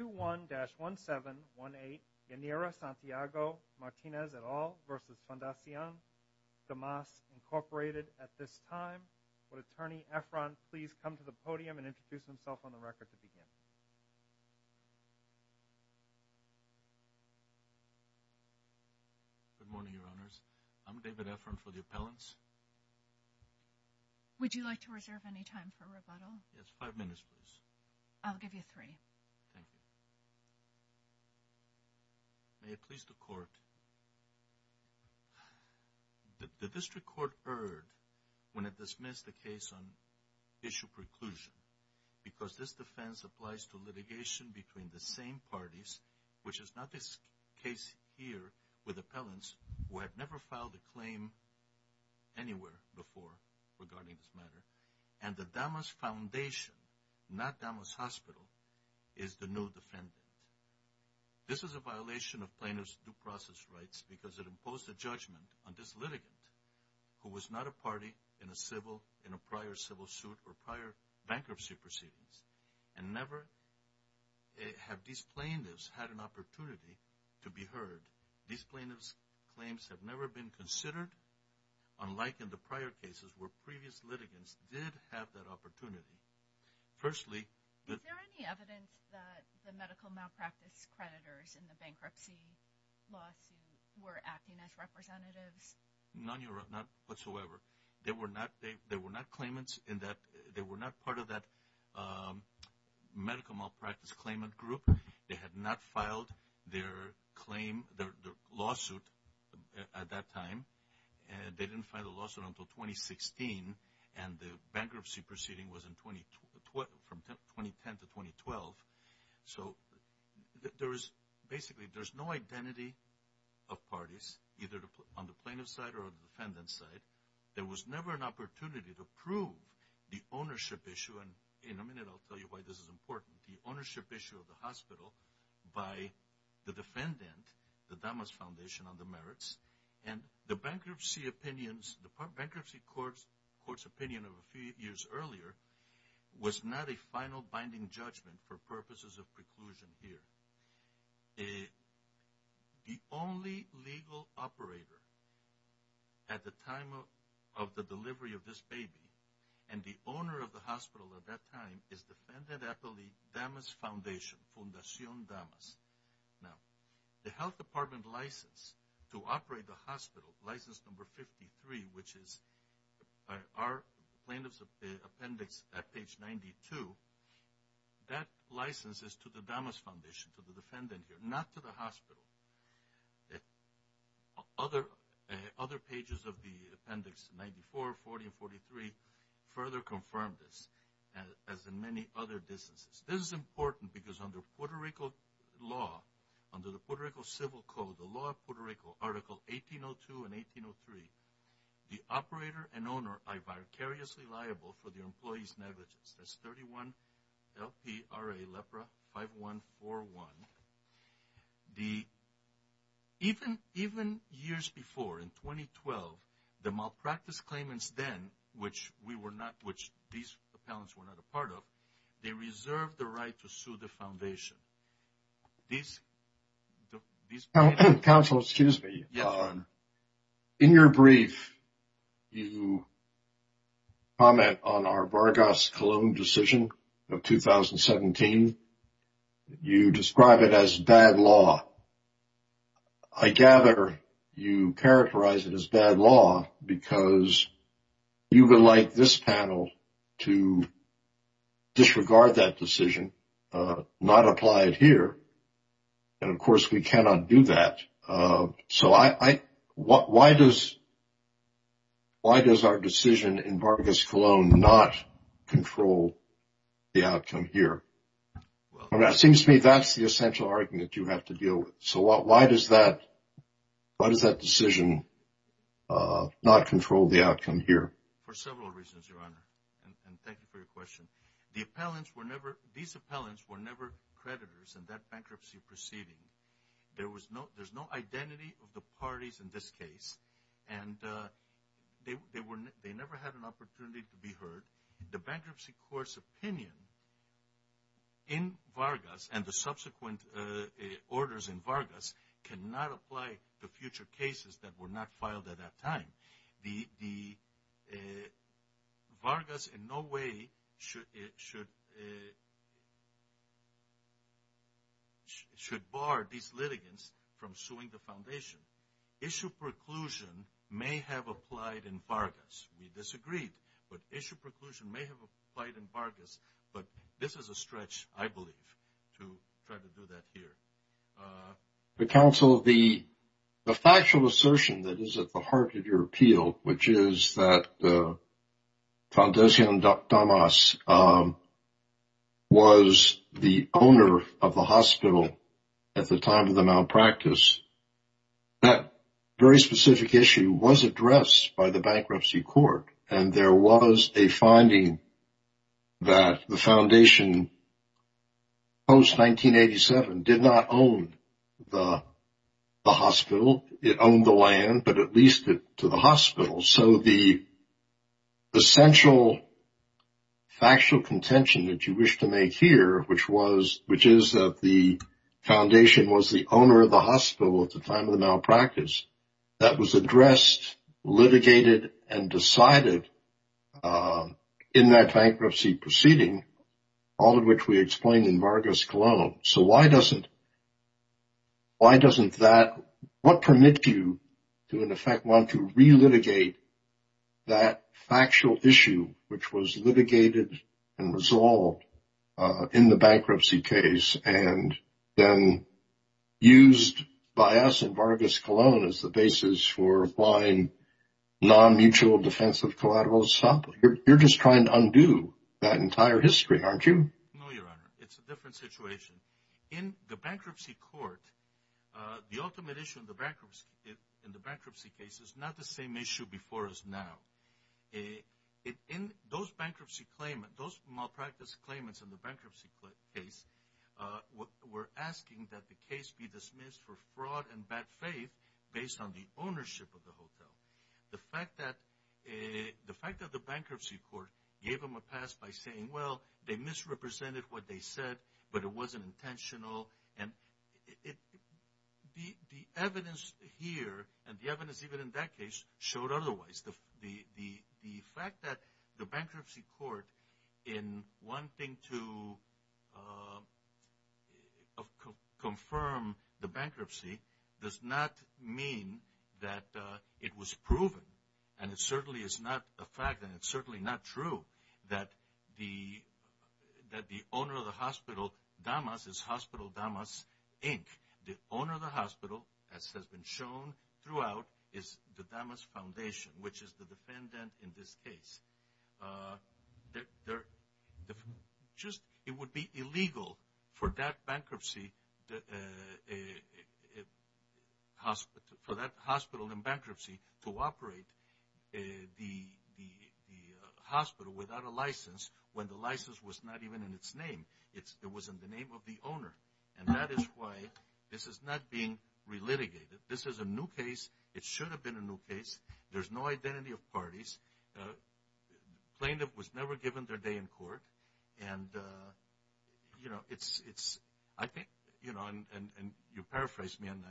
21-1718, Yanira Santiago-Martinez et al. v. Fundacion Damas, Inc. at this time. Would Attorney Efron please come to the podium and introduce himself on the record to begin? Good morning, Your Honors. I'm David Efron for the appellants. Would you like to reserve any time for rebuttal? Yes, five minutes, please. I'll give you three. Thank you. May it please the Court. The District Court erred when it dismissed the case on issue preclusion because this defense applies to litigation between the same parties, which is not the case here with appellants who have never filed a claim anywhere before regarding this matter, and the Damas Foundation, not Damas Hospital, is the new defendant. This is a violation of plaintiffs' due process rights because it imposed a judgment on this litigant who was not a party in a prior civil suit or prior bankruptcy proceedings, and never have these plaintiffs had an opportunity to be heard. These plaintiffs' claims have never been considered, unlike in the prior cases where previous litigants did have that opportunity. Firstly, Is there any evidence that the medical malpractice creditors in the bankruptcy lawsuit were acting as representatives? Not whatsoever. They were not claimants. They were not part of that medical malpractice claimant group. They had not filed their lawsuit at that time. They didn't file the lawsuit until 2016, and the bankruptcy proceeding was from 2010 to 2012. So, basically, there's no identity of parties, either on the plaintiff's side or on the defendant's side. There was never an opportunity to prove the ownership issue, and in a minute I'll tell you why this is important. The ownership issue of the hospital by the defendant, the Damas Foundation on the Merits, and the bankruptcy court's opinion of a few years earlier was not a final binding judgment for purposes of preclusion here. The only legal operator at the time of the delivery of this baby, and the owner of the hospital at that time, is Defendant Appellee Damas Foundation, Fundacion Damas. Now, the health department license to operate the hospital, license number 53, which is our plaintiff's appendix at page 92, that license is to the Damas Foundation, to the defendant here, not to the hospital. Other pages of the appendix, 94, 40, and 43, further confirm this, as in many other instances. This is important because under Puerto Rico law, under the Puerto Rico Civil Code, the law of Puerto Rico, Article 1802 and 1803, the operator and owner are vicariously liable for the employee's negligence. That's 31 L-P-R-A, LEPRA 5141. Even years before, in 2012, the malpractice claimants then, which these appellants were not a part of, they reserved the right to sue the foundation. Council, excuse me. In your brief, you comment on our Vargas-Colomb decision of 2017. You describe it as bad law. I gather you characterize it as bad law because you would like this panel to disregard that decision, not apply it here, and, of course, we cannot do that. So why does our decision in Vargas-Colomb not control the outcome here? It seems to me that's the essential argument you have to deal with. So why does that decision not control the outcome here? For several reasons, Your Honor, and thank you for your question. These appellants were never creditors in that bankruptcy proceeding. There's no identity of the parties in this case, and they never had an opportunity to be heard. The bankruptcy court's opinion in Vargas and the subsequent orders in Vargas cannot apply to future cases that were not filed at that time. The Vargas in no way should bar these litigants from suing the foundation. Issue preclusion may have applied in Vargas. We disagreed, but issue preclusion may have applied in Vargas. But this is a stretch, I believe, to try to do that here. Counsel, the factual assertion that is at the heart of your appeal, which is that Fondacion Damas was the owner of the hospital at the time of the malpractice, that very specific issue was addressed by the bankruptcy court, and there was a finding that the foundation post-1987 did not own the hospital. It owned the land, but it leased it to the hospital. So the essential factual contention that you wish to make here, which is that the foundation was the owner of the hospital at the time of the malpractice, that was addressed, litigated, and decided in that bankruptcy proceeding, all of which we explained in Vargas Colón. So why doesn't that – what permits you to, in effect, want to relitigate that factual issue, which was litigated and resolved in the bankruptcy case and then used by us in Vargas Colón as the basis for applying non-mutual defensive collateral? You're just trying to undo that entire history, aren't you? No, Your Honor. It's a different situation. In the bankruptcy court, the ultimate issue in the bankruptcy case is not the same issue before us now. Those bankruptcy claimant – those malpractice claimants in the bankruptcy case were asking that the case be dismissed for fraud and bad faith based on the ownership of the hotel. The fact that the bankruptcy court gave them a pass by saying, well, they misrepresented what they said, but it wasn't intentional, and the evidence here and the evidence even in that case showed otherwise. The fact that the bankruptcy court, in wanting to confirm the bankruptcy, does not mean that it was proven, and it certainly is not a fact, and it's certainly not true, that the owner of the hospital, Damas, is Hospital Damas, Inc. The owner of the hospital, as has been shown throughout, is the Damas Foundation, which is the defendant in this case. It would be illegal for that hospital in bankruptcy to operate the hospital without a license when the license was not even in its name. It was in the name of the owner, and that is why this is not being relitigated. This is a new case. It should have been a new case. There's no identity of parties. The plaintiff was never given their day in court. You paraphrased me, and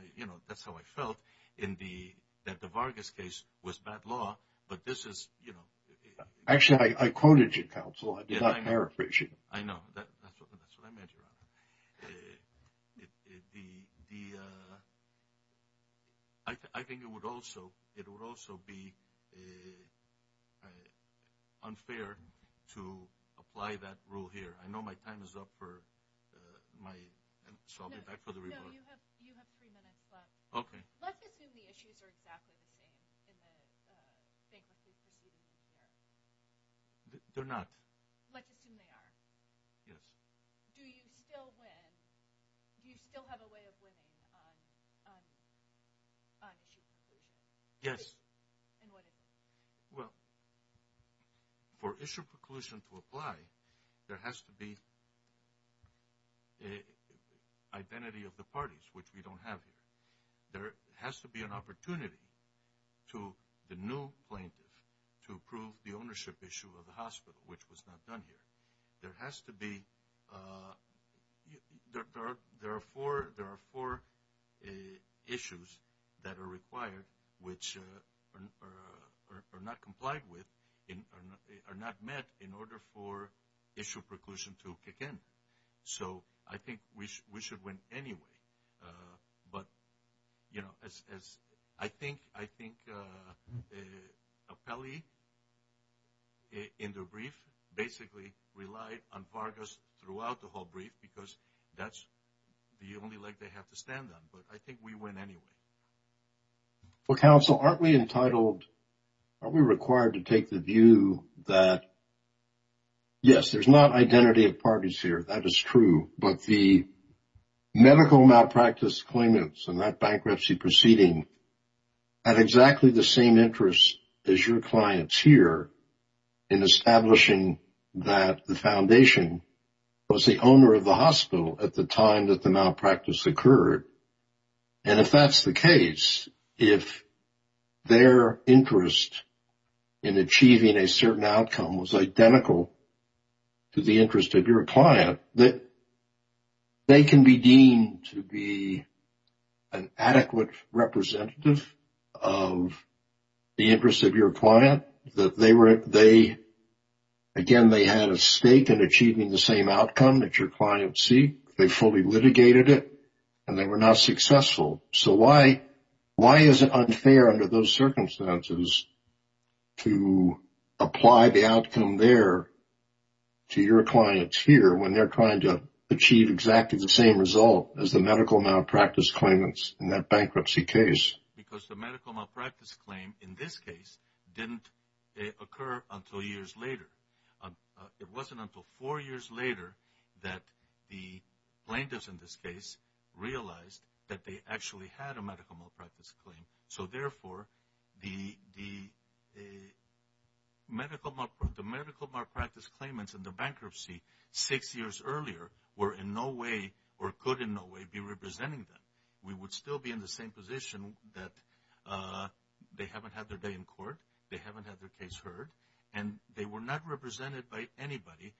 that's how I felt, that the Vargas case was bad law. Actually, I quoted you, counsel. I did not paraphrase you. I know. That's what I meant, Your Honor. I think it would also be unfair to apply that rule here. I know my time is up, so I'll be back for the report. No, you have three minutes left. Okay. Let's assume the issues are exactly the same in the bankruptcy proceedings. They're not. Let's assume they are. Yes. Do you still win? Do you still have a way of winning on issue preclusion? Yes. And what is it? Well, for issue preclusion to apply, there has to be identity of the parties, which we don't have here. There has to be an opportunity to the new plaintiff to approve the ownership issue of the hospital, which was not done here. There has to be – there are four issues that are required, which are not complied with, are not met in order for issue preclusion to kick in. So I think we should win anyway. But, you know, as I think Apelli in the brief basically relied on Vargas throughout the whole brief because that's the only leg they have to stand on. But I think we win anyway. Well, counsel, aren't we entitled – are we required to take the view that, yes, there's not identity of parties here. That is true. But the medical malpractice claimants in that bankruptcy proceeding had exactly the same interest as your clients here in establishing that the foundation was the owner of the hospital at the time that the malpractice occurred. And if that's the case, if their interest in achieving a certain outcome was identical to the interest of your client, they can be deemed to be an adequate representative of the interest of your client. Again, they had a stake in achieving the same outcome that your clients seek. They fully litigated it, and they were not successful. So why is it unfair under those circumstances to apply the outcome there to your clients here when they're trying to achieve exactly the same result as the medical malpractice claimants in that bankruptcy case? Because the medical malpractice claim in this case didn't occur until years later. It wasn't until four years later that the plaintiffs in this case realized that they actually had a medical malpractice claim. So therefore, the medical malpractice claimants in the bankruptcy six years earlier were in no way or could in no way be representing them. We would still be in the same position that they haven't had their day in court, they haven't had their case heard, and they were not represented by anybody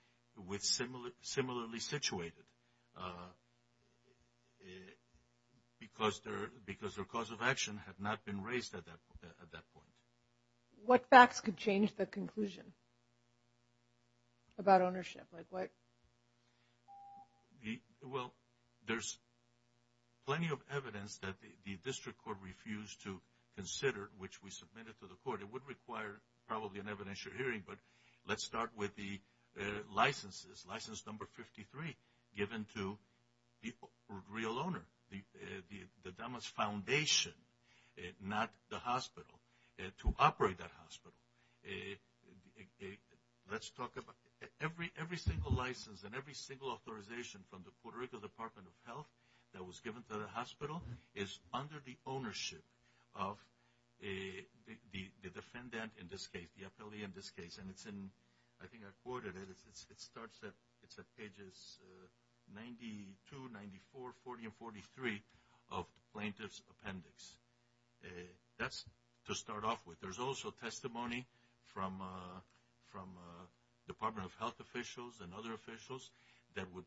similarly situated because their cause of action had not been raised at that point. What facts could change the conclusion about ownership? Well, there's plenty of evidence that the district court refused to consider, which we submitted to the court. It would require probably an evidentiary hearing, but let's start with the licenses. License number 53 given to the real owner, the Damas Foundation, not the hospital, to operate that hospital. Let's talk about every single license and every single authorization from the Puerto Rico Department of Health that was given to the hospital is under the ownership of the defendant in this case, the appellee in this case. And it's in, I think I quoted it, it starts at pages 92, 94, 40, and 43 of the plaintiff's appendix. That's to start off with. There's also testimony from Department of Health officials and other officials that would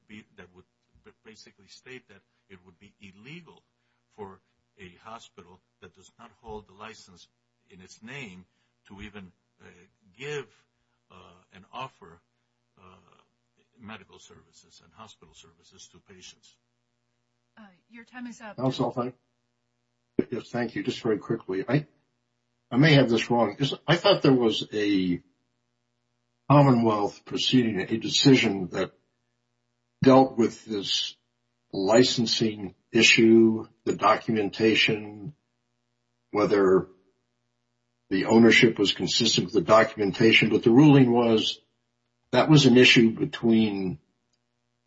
basically state that it would be illegal for a hospital that does not hold the license in its name to even give and offer medical services and hospital services to patients. Your time is up. Thank you. Just very quickly. I may have this wrong. I thought there was a Commonwealth proceeding, a decision that dealt with this licensing issue, the documentation, whether the ownership was consistent with the documentation. But the ruling was that was an issue between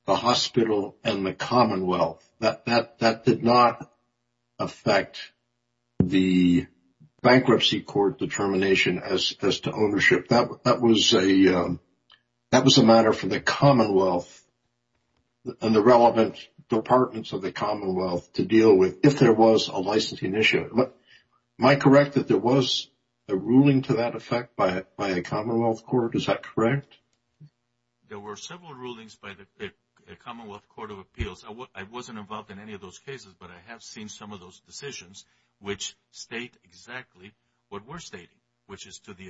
the hospital and the Commonwealth. That did not affect the bankruptcy court determination as to ownership. That was a matter for the Commonwealth and the relevant departments of the Commonwealth to deal with if there was a licensing issue. Am I correct that there was a ruling to that effect by a Commonwealth court? Is that correct? There were several rulings by the Commonwealth Court of Appeals. I wasn't involved in any of those cases, but I have seen some of those decisions which state exactly what we're stating, which is to the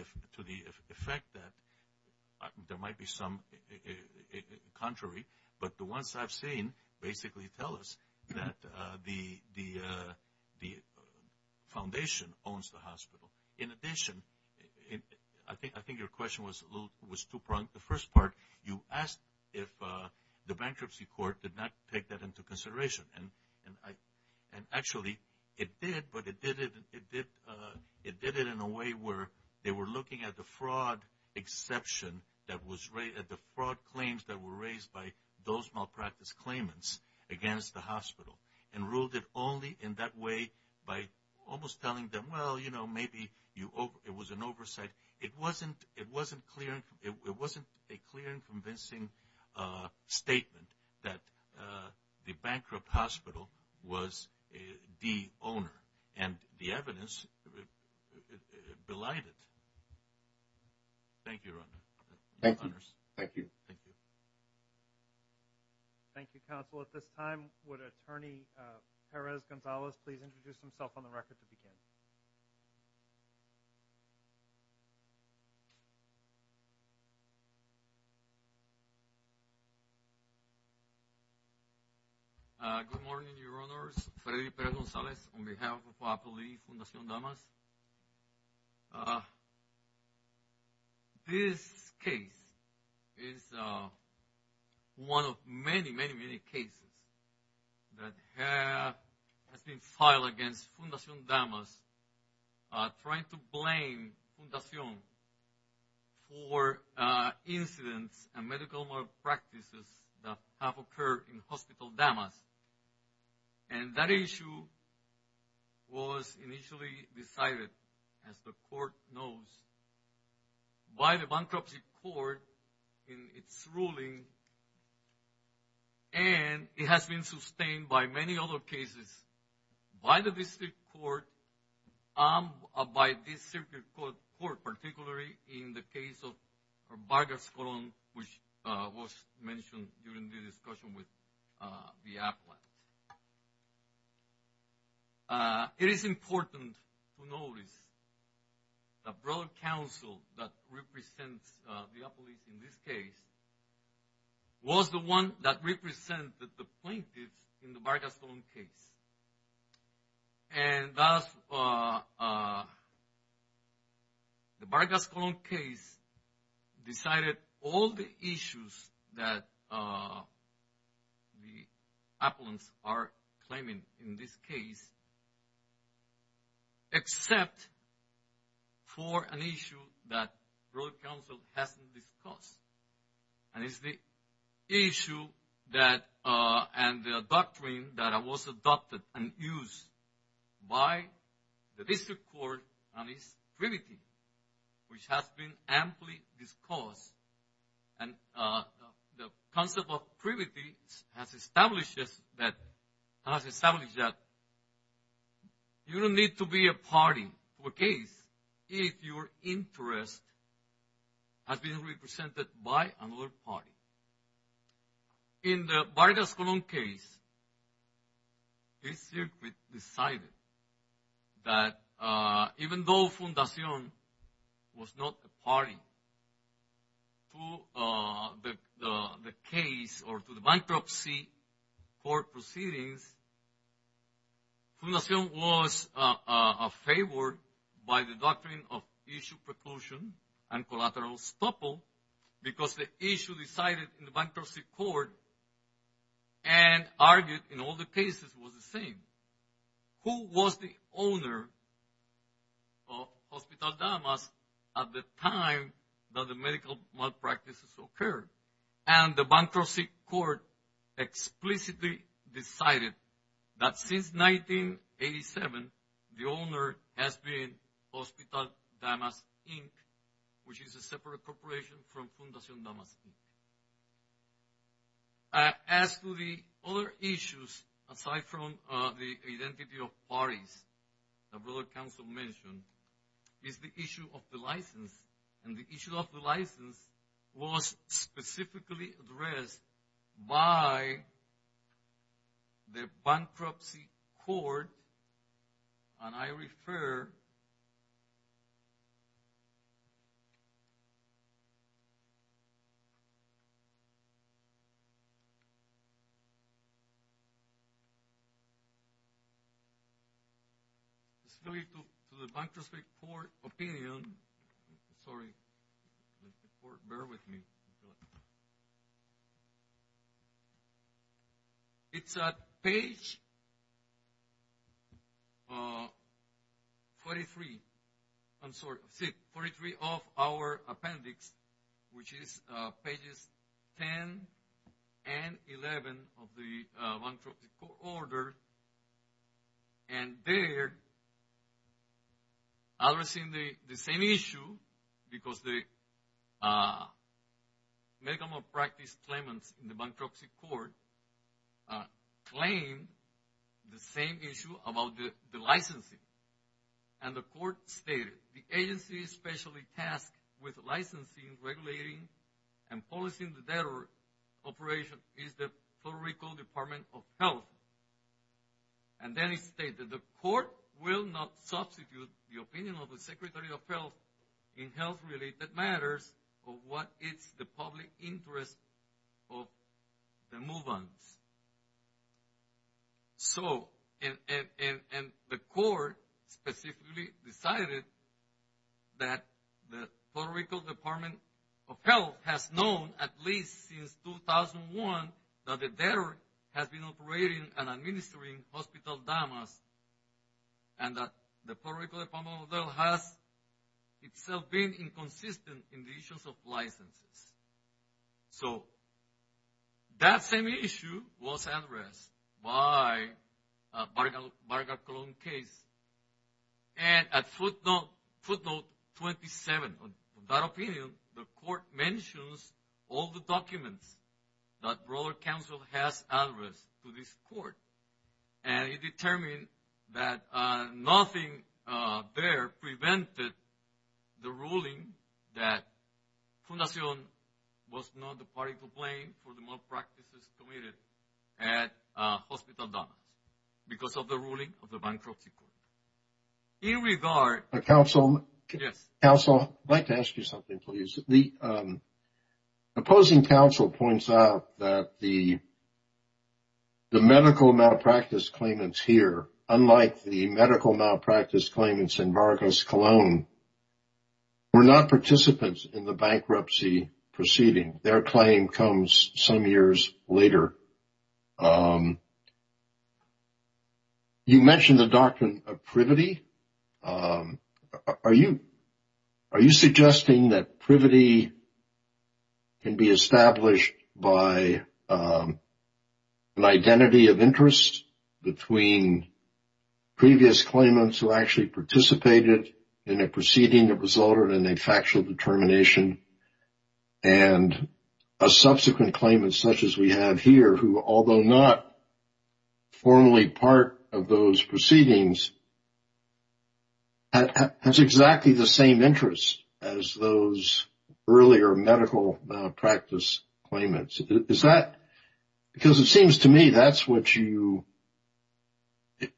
effect that there might be some contrary. But the ones I've seen basically tell us that the foundation owns the hospital. In addition, I think your question was too broad. You asked if the bankruptcy court did not take that into consideration. Actually, it did, but it did it in a way where they were looking at the fraud claims that were raised by those malpractice claimants against the hospital. And ruled it only in that way by almost telling them, well, you know, maybe it was an oversight. It wasn't a clear and convincing statement that the bankrupt hospital was the owner. And the evidence belied it. Thank you, Your Honor. Thank you. Thank you. Thank you, counsel. At this time, would Attorney Perez-Gonzalez please introduce himself on the record to begin? Good morning, Your Honors. Freddy Perez-Gonzalez on behalf of Appellee Fundacion Damas. This case is one of many, many, many cases that has been filed against Fundacion Damas, trying to blame Fundacion for incidents and medical malpractices that have occurred in Hospital Damas. And that issue was initially decided, as the court knows, by the bankruptcy court in its ruling, and it has been sustained by many other cases by the district court, by this circuit court, particularly in the case of Vargas Colon, which was mentioned during the discussion with the appellate. It is important to notice the broader counsel that represents the appellate in this case was the one that represented the plaintiffs in the Vargas Colon case. And thus, the Vargas Colon case decided all the issues that the appellants are claiming in this case, except for an issue that broader counsel hasn't discussed. And it's the issue that, and the doctrine that was adopted and used by the district court and its privity, which has been amply discussed. And the concept of privity has established that you don't need to be a party to a case if your interest has been represented by another party. In the Vargas Colon case, this circuit decided that even though Fundacion was not a party to the case or to the bankruptcy court proceedings, Fundacion was favored by the doctrine of issue preclusion and collateral estoppel because the issue decided in the bankruptcy court and argued in all the cases was the same. Who was the owner of Hospital Damas at the time that the medical malpractices occurred? And the bankruptcy court explicitly decided that since 1987, the owner has been Hospital Damas, Inc., which is a separate corporation from Fundacion Damas, Inc. As to the other issues, aside from the identity of parties that broader counsel mentioned, is the issue of the license. And the issue of the license was specifically addressed by the bankruptcy court. And I refer to the bankruptcy court opinion. Sorry. Bear with me. It's at page 43 of our appendix, which is pages 10 and 11 of the bankruptcy court order. And there, addressing the same issue, because the medical malpractice claimants in the bankruptcy court claimed the same issue about the licensing. And the court stated, the agency specially tasked with licensing, regulating, and policing the debtor operation is the Puerto Rico Department of Health. And then it stated, the court will not substitute the opinion of the Secretary of Health in health-related matters of what is the public interest of the move-ons. So, and the court specifically decided that the Puerto Rico Department of Health has known at least since 2001 that the debtor has been operating and administering Hospital Damas, and that the Puerto Rico Department of Health has itself been inconsistent in the issues of licenses. So, that same issue was addressed by the Varga-Colón case. And at footnote 27 of that opinion, the court mentions all the documents that Rural Council has addressed to this court. And it determined that nothing there prevented the ruling that Fundación was not the party to blame for the malpractices committed at Hospital Damas because of the ruling of the bankruptcy court. In regard... Counsel, I'd like to ask you something, please. The opposing counsel points out that the medical malpractice claimants here, unlike the medical malpractice claimants in Varga-Colón, were not participants in the bankruptcy proceeding. Their claim comes some years later. You mentioned the doctrine of privity. Are you suggesting that privity can be established by an identity of interest between previous claimants who actually participated in a proceeding that resulted in a factual determination and a subsequent claimant such as we have here, who, although not formally part of those proceedings, has exactly the same interests as those earlier medical malpractice claimants? Is that... Because it seems to me that's what you...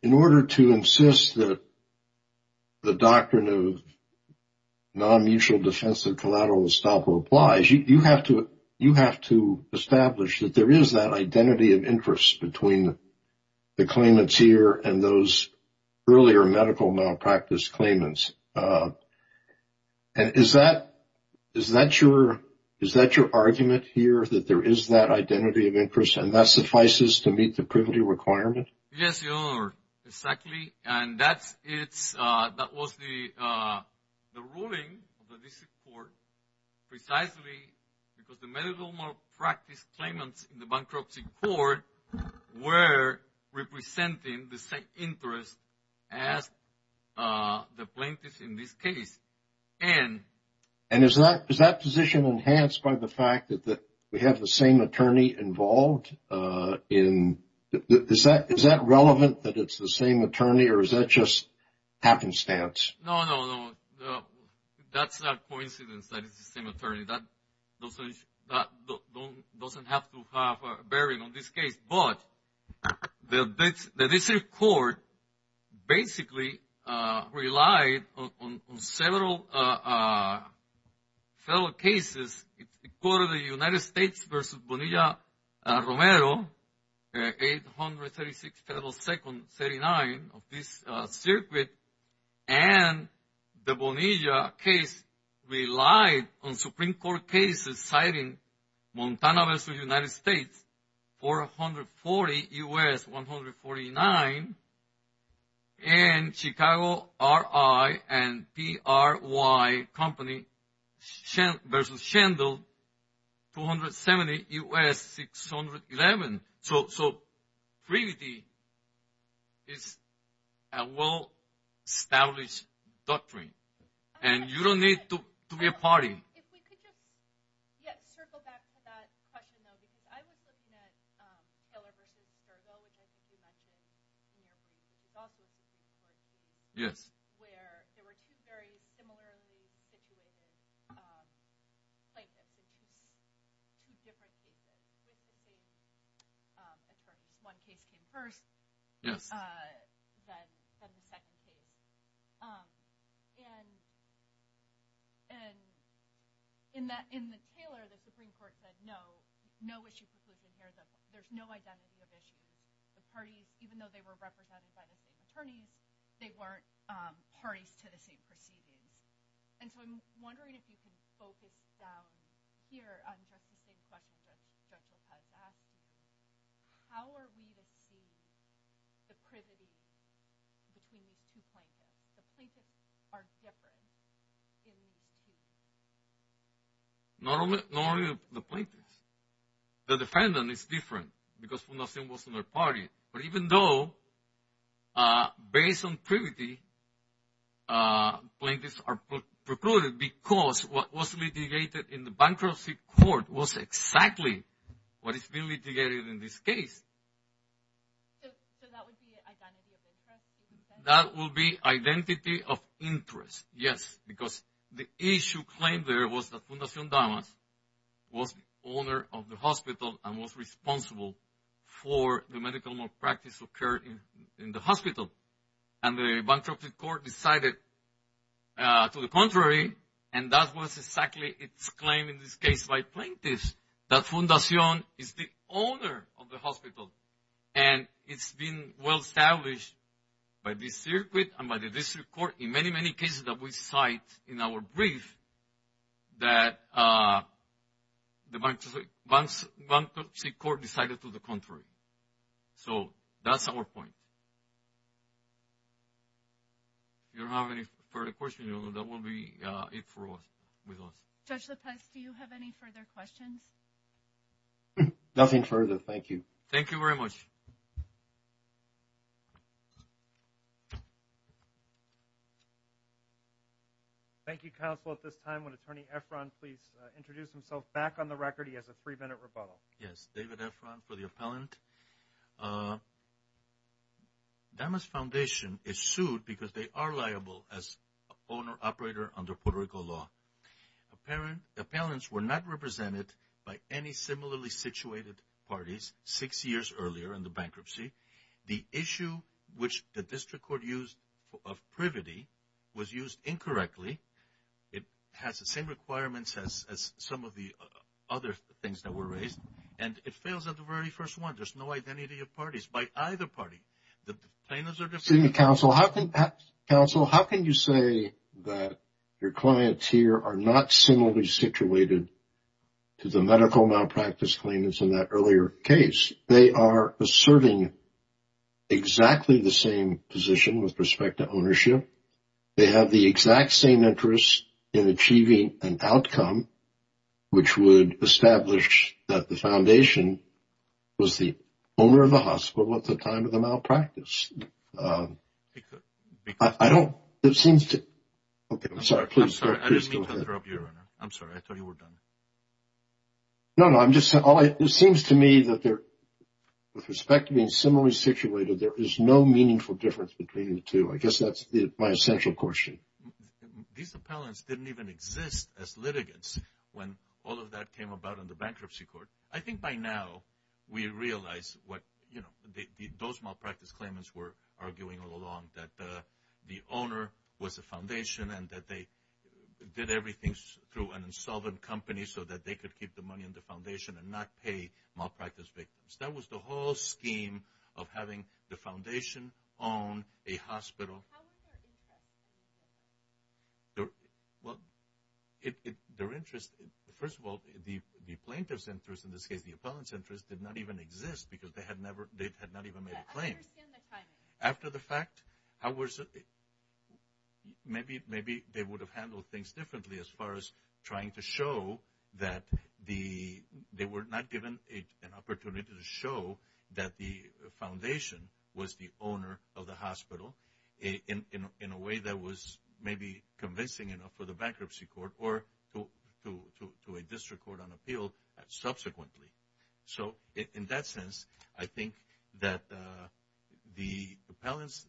In order to insist that the doctrine of non-mutual defense of collateral estoppel applies, you have to establish that there is that identity of interest between the claimants here and those earlier medical malpractice claimants. And is that your argument here, that there is that identity of interest and that suffices to meet the privity requirement? Yes, Your Honor, exactly. And that was the ruling of the district court precisely because the medical malpractice claimants in the bankruptcy court were representing the same interests as the plaintiffs in this case. And... And is that position enhanced by the fact that we have the same attorney involved in... Is that relevant, that it's the same attorney, or is that just happenstance? No, no, no. That's a coincidence that it's the same attorney. That doesn't have to have a bearing on this case. But the district court basically relied on several fellow cases. It's the court of the United States versus Bonilla-Romero, 836 federal seconds, 39 of this circuit. And the Bonilla case relied on Supreme Court cases citing Montana versus United States, 440 U.S., 149. And Chicago R.I. and P.R.Y. company versus Schendel, 270 U.S., 611. So privity is a well-established doctrine. And you don't need to be a party. If we could just circle back to that question, though, because I was looking at Taylor versus Sergo, which I think you mentioned in your brief, which is also a Supreme Court case, where there were two very similarly situated plaintiffs in two different cases with the same attorneys. One case came first, then the second case. And in the Taylor, the Supreme Court said, no, no issue conclusion here. There's no identity of issues. The parties, even though they were represented by the same attorneys, they weren't parties to the same proceedings. And so I'm wondering if you can focus down here on just the same questions that Joshua has asked you. How are we to see the privity between these two plaintiffs? The plaintiffs are different in these two cases. Not only the plaintiffs. The defendant is different because Funasin was not a party. But even though based on privity, plaintiffs are precluded because what was litigated in the bankruptcy court was exactly what is being litigated in this case. So that would be identity of interest? That would be identity of interest, yes. Because the issue claimed there was that Funasin Damas was the owner of the hospital and was responsible for the medical malpractice occurred in the hospital. And the bankruptcy court decided to the contrary, and that was exactly its claim in this case by plaintiffs, that Funasin is the owner of the hospital. And it's been well-established by the circuit and by the district court in many, many cases that we cite in our brief that the bankruptcy court decided to the contrary. So that's our point. If you don't have any further questions, that will be it for us. Judge Lopez, do you have any further questions? Nothing further. Thank you. Thank you very much. Thank you. Thank you, counsel. At this time, would Attorney Efron please introduce himself back on the record? He has a three-minute rebuttal. Yes. David Efron for the appellant. Damas Foundation is sued because they are liable as owner-operator under Puerto Rico law. Appellants were not represented by any similarly situated parties six years earlier in the bankruptcy. The issue which the district court used of privity was used incorrectly. It has the same requirements as some of the other things that were raised, and it fails at the very first one. There's no identity of parties by either party. Excuse me, counsel. Counsel, how can you say that your clients here are not similarly situated to the medical malpractice claimants in that earlier case? They are asserting exactly the same position with respect to ownership. They have the exact same interest in achieving an outcome, which would establish that the foundation was the owner of the hospital at the time of the malpractice. It could be. I don't. It seems to. Okay. I'm sorry. I'm sorry. I didn't mean to interrupt you, Your Honor. I'm sorry. I thought you were done. No, no. It seems to me that with respect to being similarly situated, there is no meaningful difference between the two. I guess that's my essential question. These appellants didn't even exist as litigants when all of that came about in the bankruptcy court. I think by now we realize what those malpractice claimants were arguing all along, that the owner was the foundation and that they did everything through an insolvent company so that they could keep the money in the foundation and not pay malpractice victims. That was the whole scheme of having the foundation own a hospital. How was their interest? Well, their interest, first of all, the plaintiff's interest, in this case the appellant's interest, did not even exist because they had not even made a claim. I understand the claim. After the fact, maybe they would have handled things differently as far as trying to show that they were not given an opportunity to show that the foundation was the owner of the hospital in a way that was maybe convincing enough for the bankruptcy court or to a district court on appeal subsequently. So in that sense, I think that the appellant's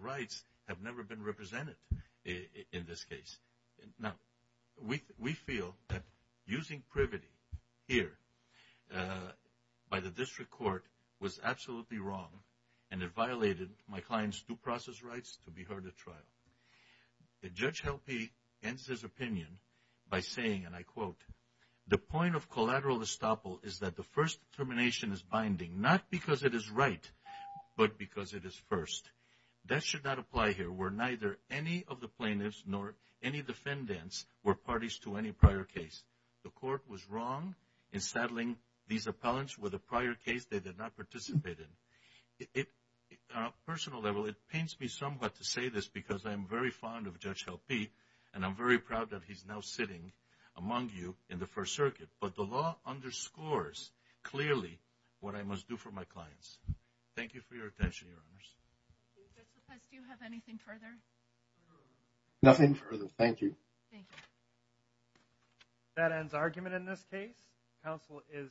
rights have never been represented in this case. Now, we feel that using privity here by the district court was absolutely wrong and it violated my client's due process rights to be heard at trial. Judge Helpe ends his opinion by saying, and I quote, the point of collateral estoppel is that the first determination is binding, not because it is right, but because it is first. That should not apply here where neither any of the plaintiffs nor any defendants were parties to any prior case. The court was wrong in settling these appellants with a prior case they did not participate in. On a personal level, it pains me somewhat to say this because I am very fond of Judge Helpe and I'm very proud that he's now sitting among you in the First Circuit, but the law underscores clearly what I must do for my clients. Thank you for your attention, Your Honors. Judge Lopez, do you have anything further? Nothing further. Thank you. Thank you. That ends argument in this case. Counsel is excused.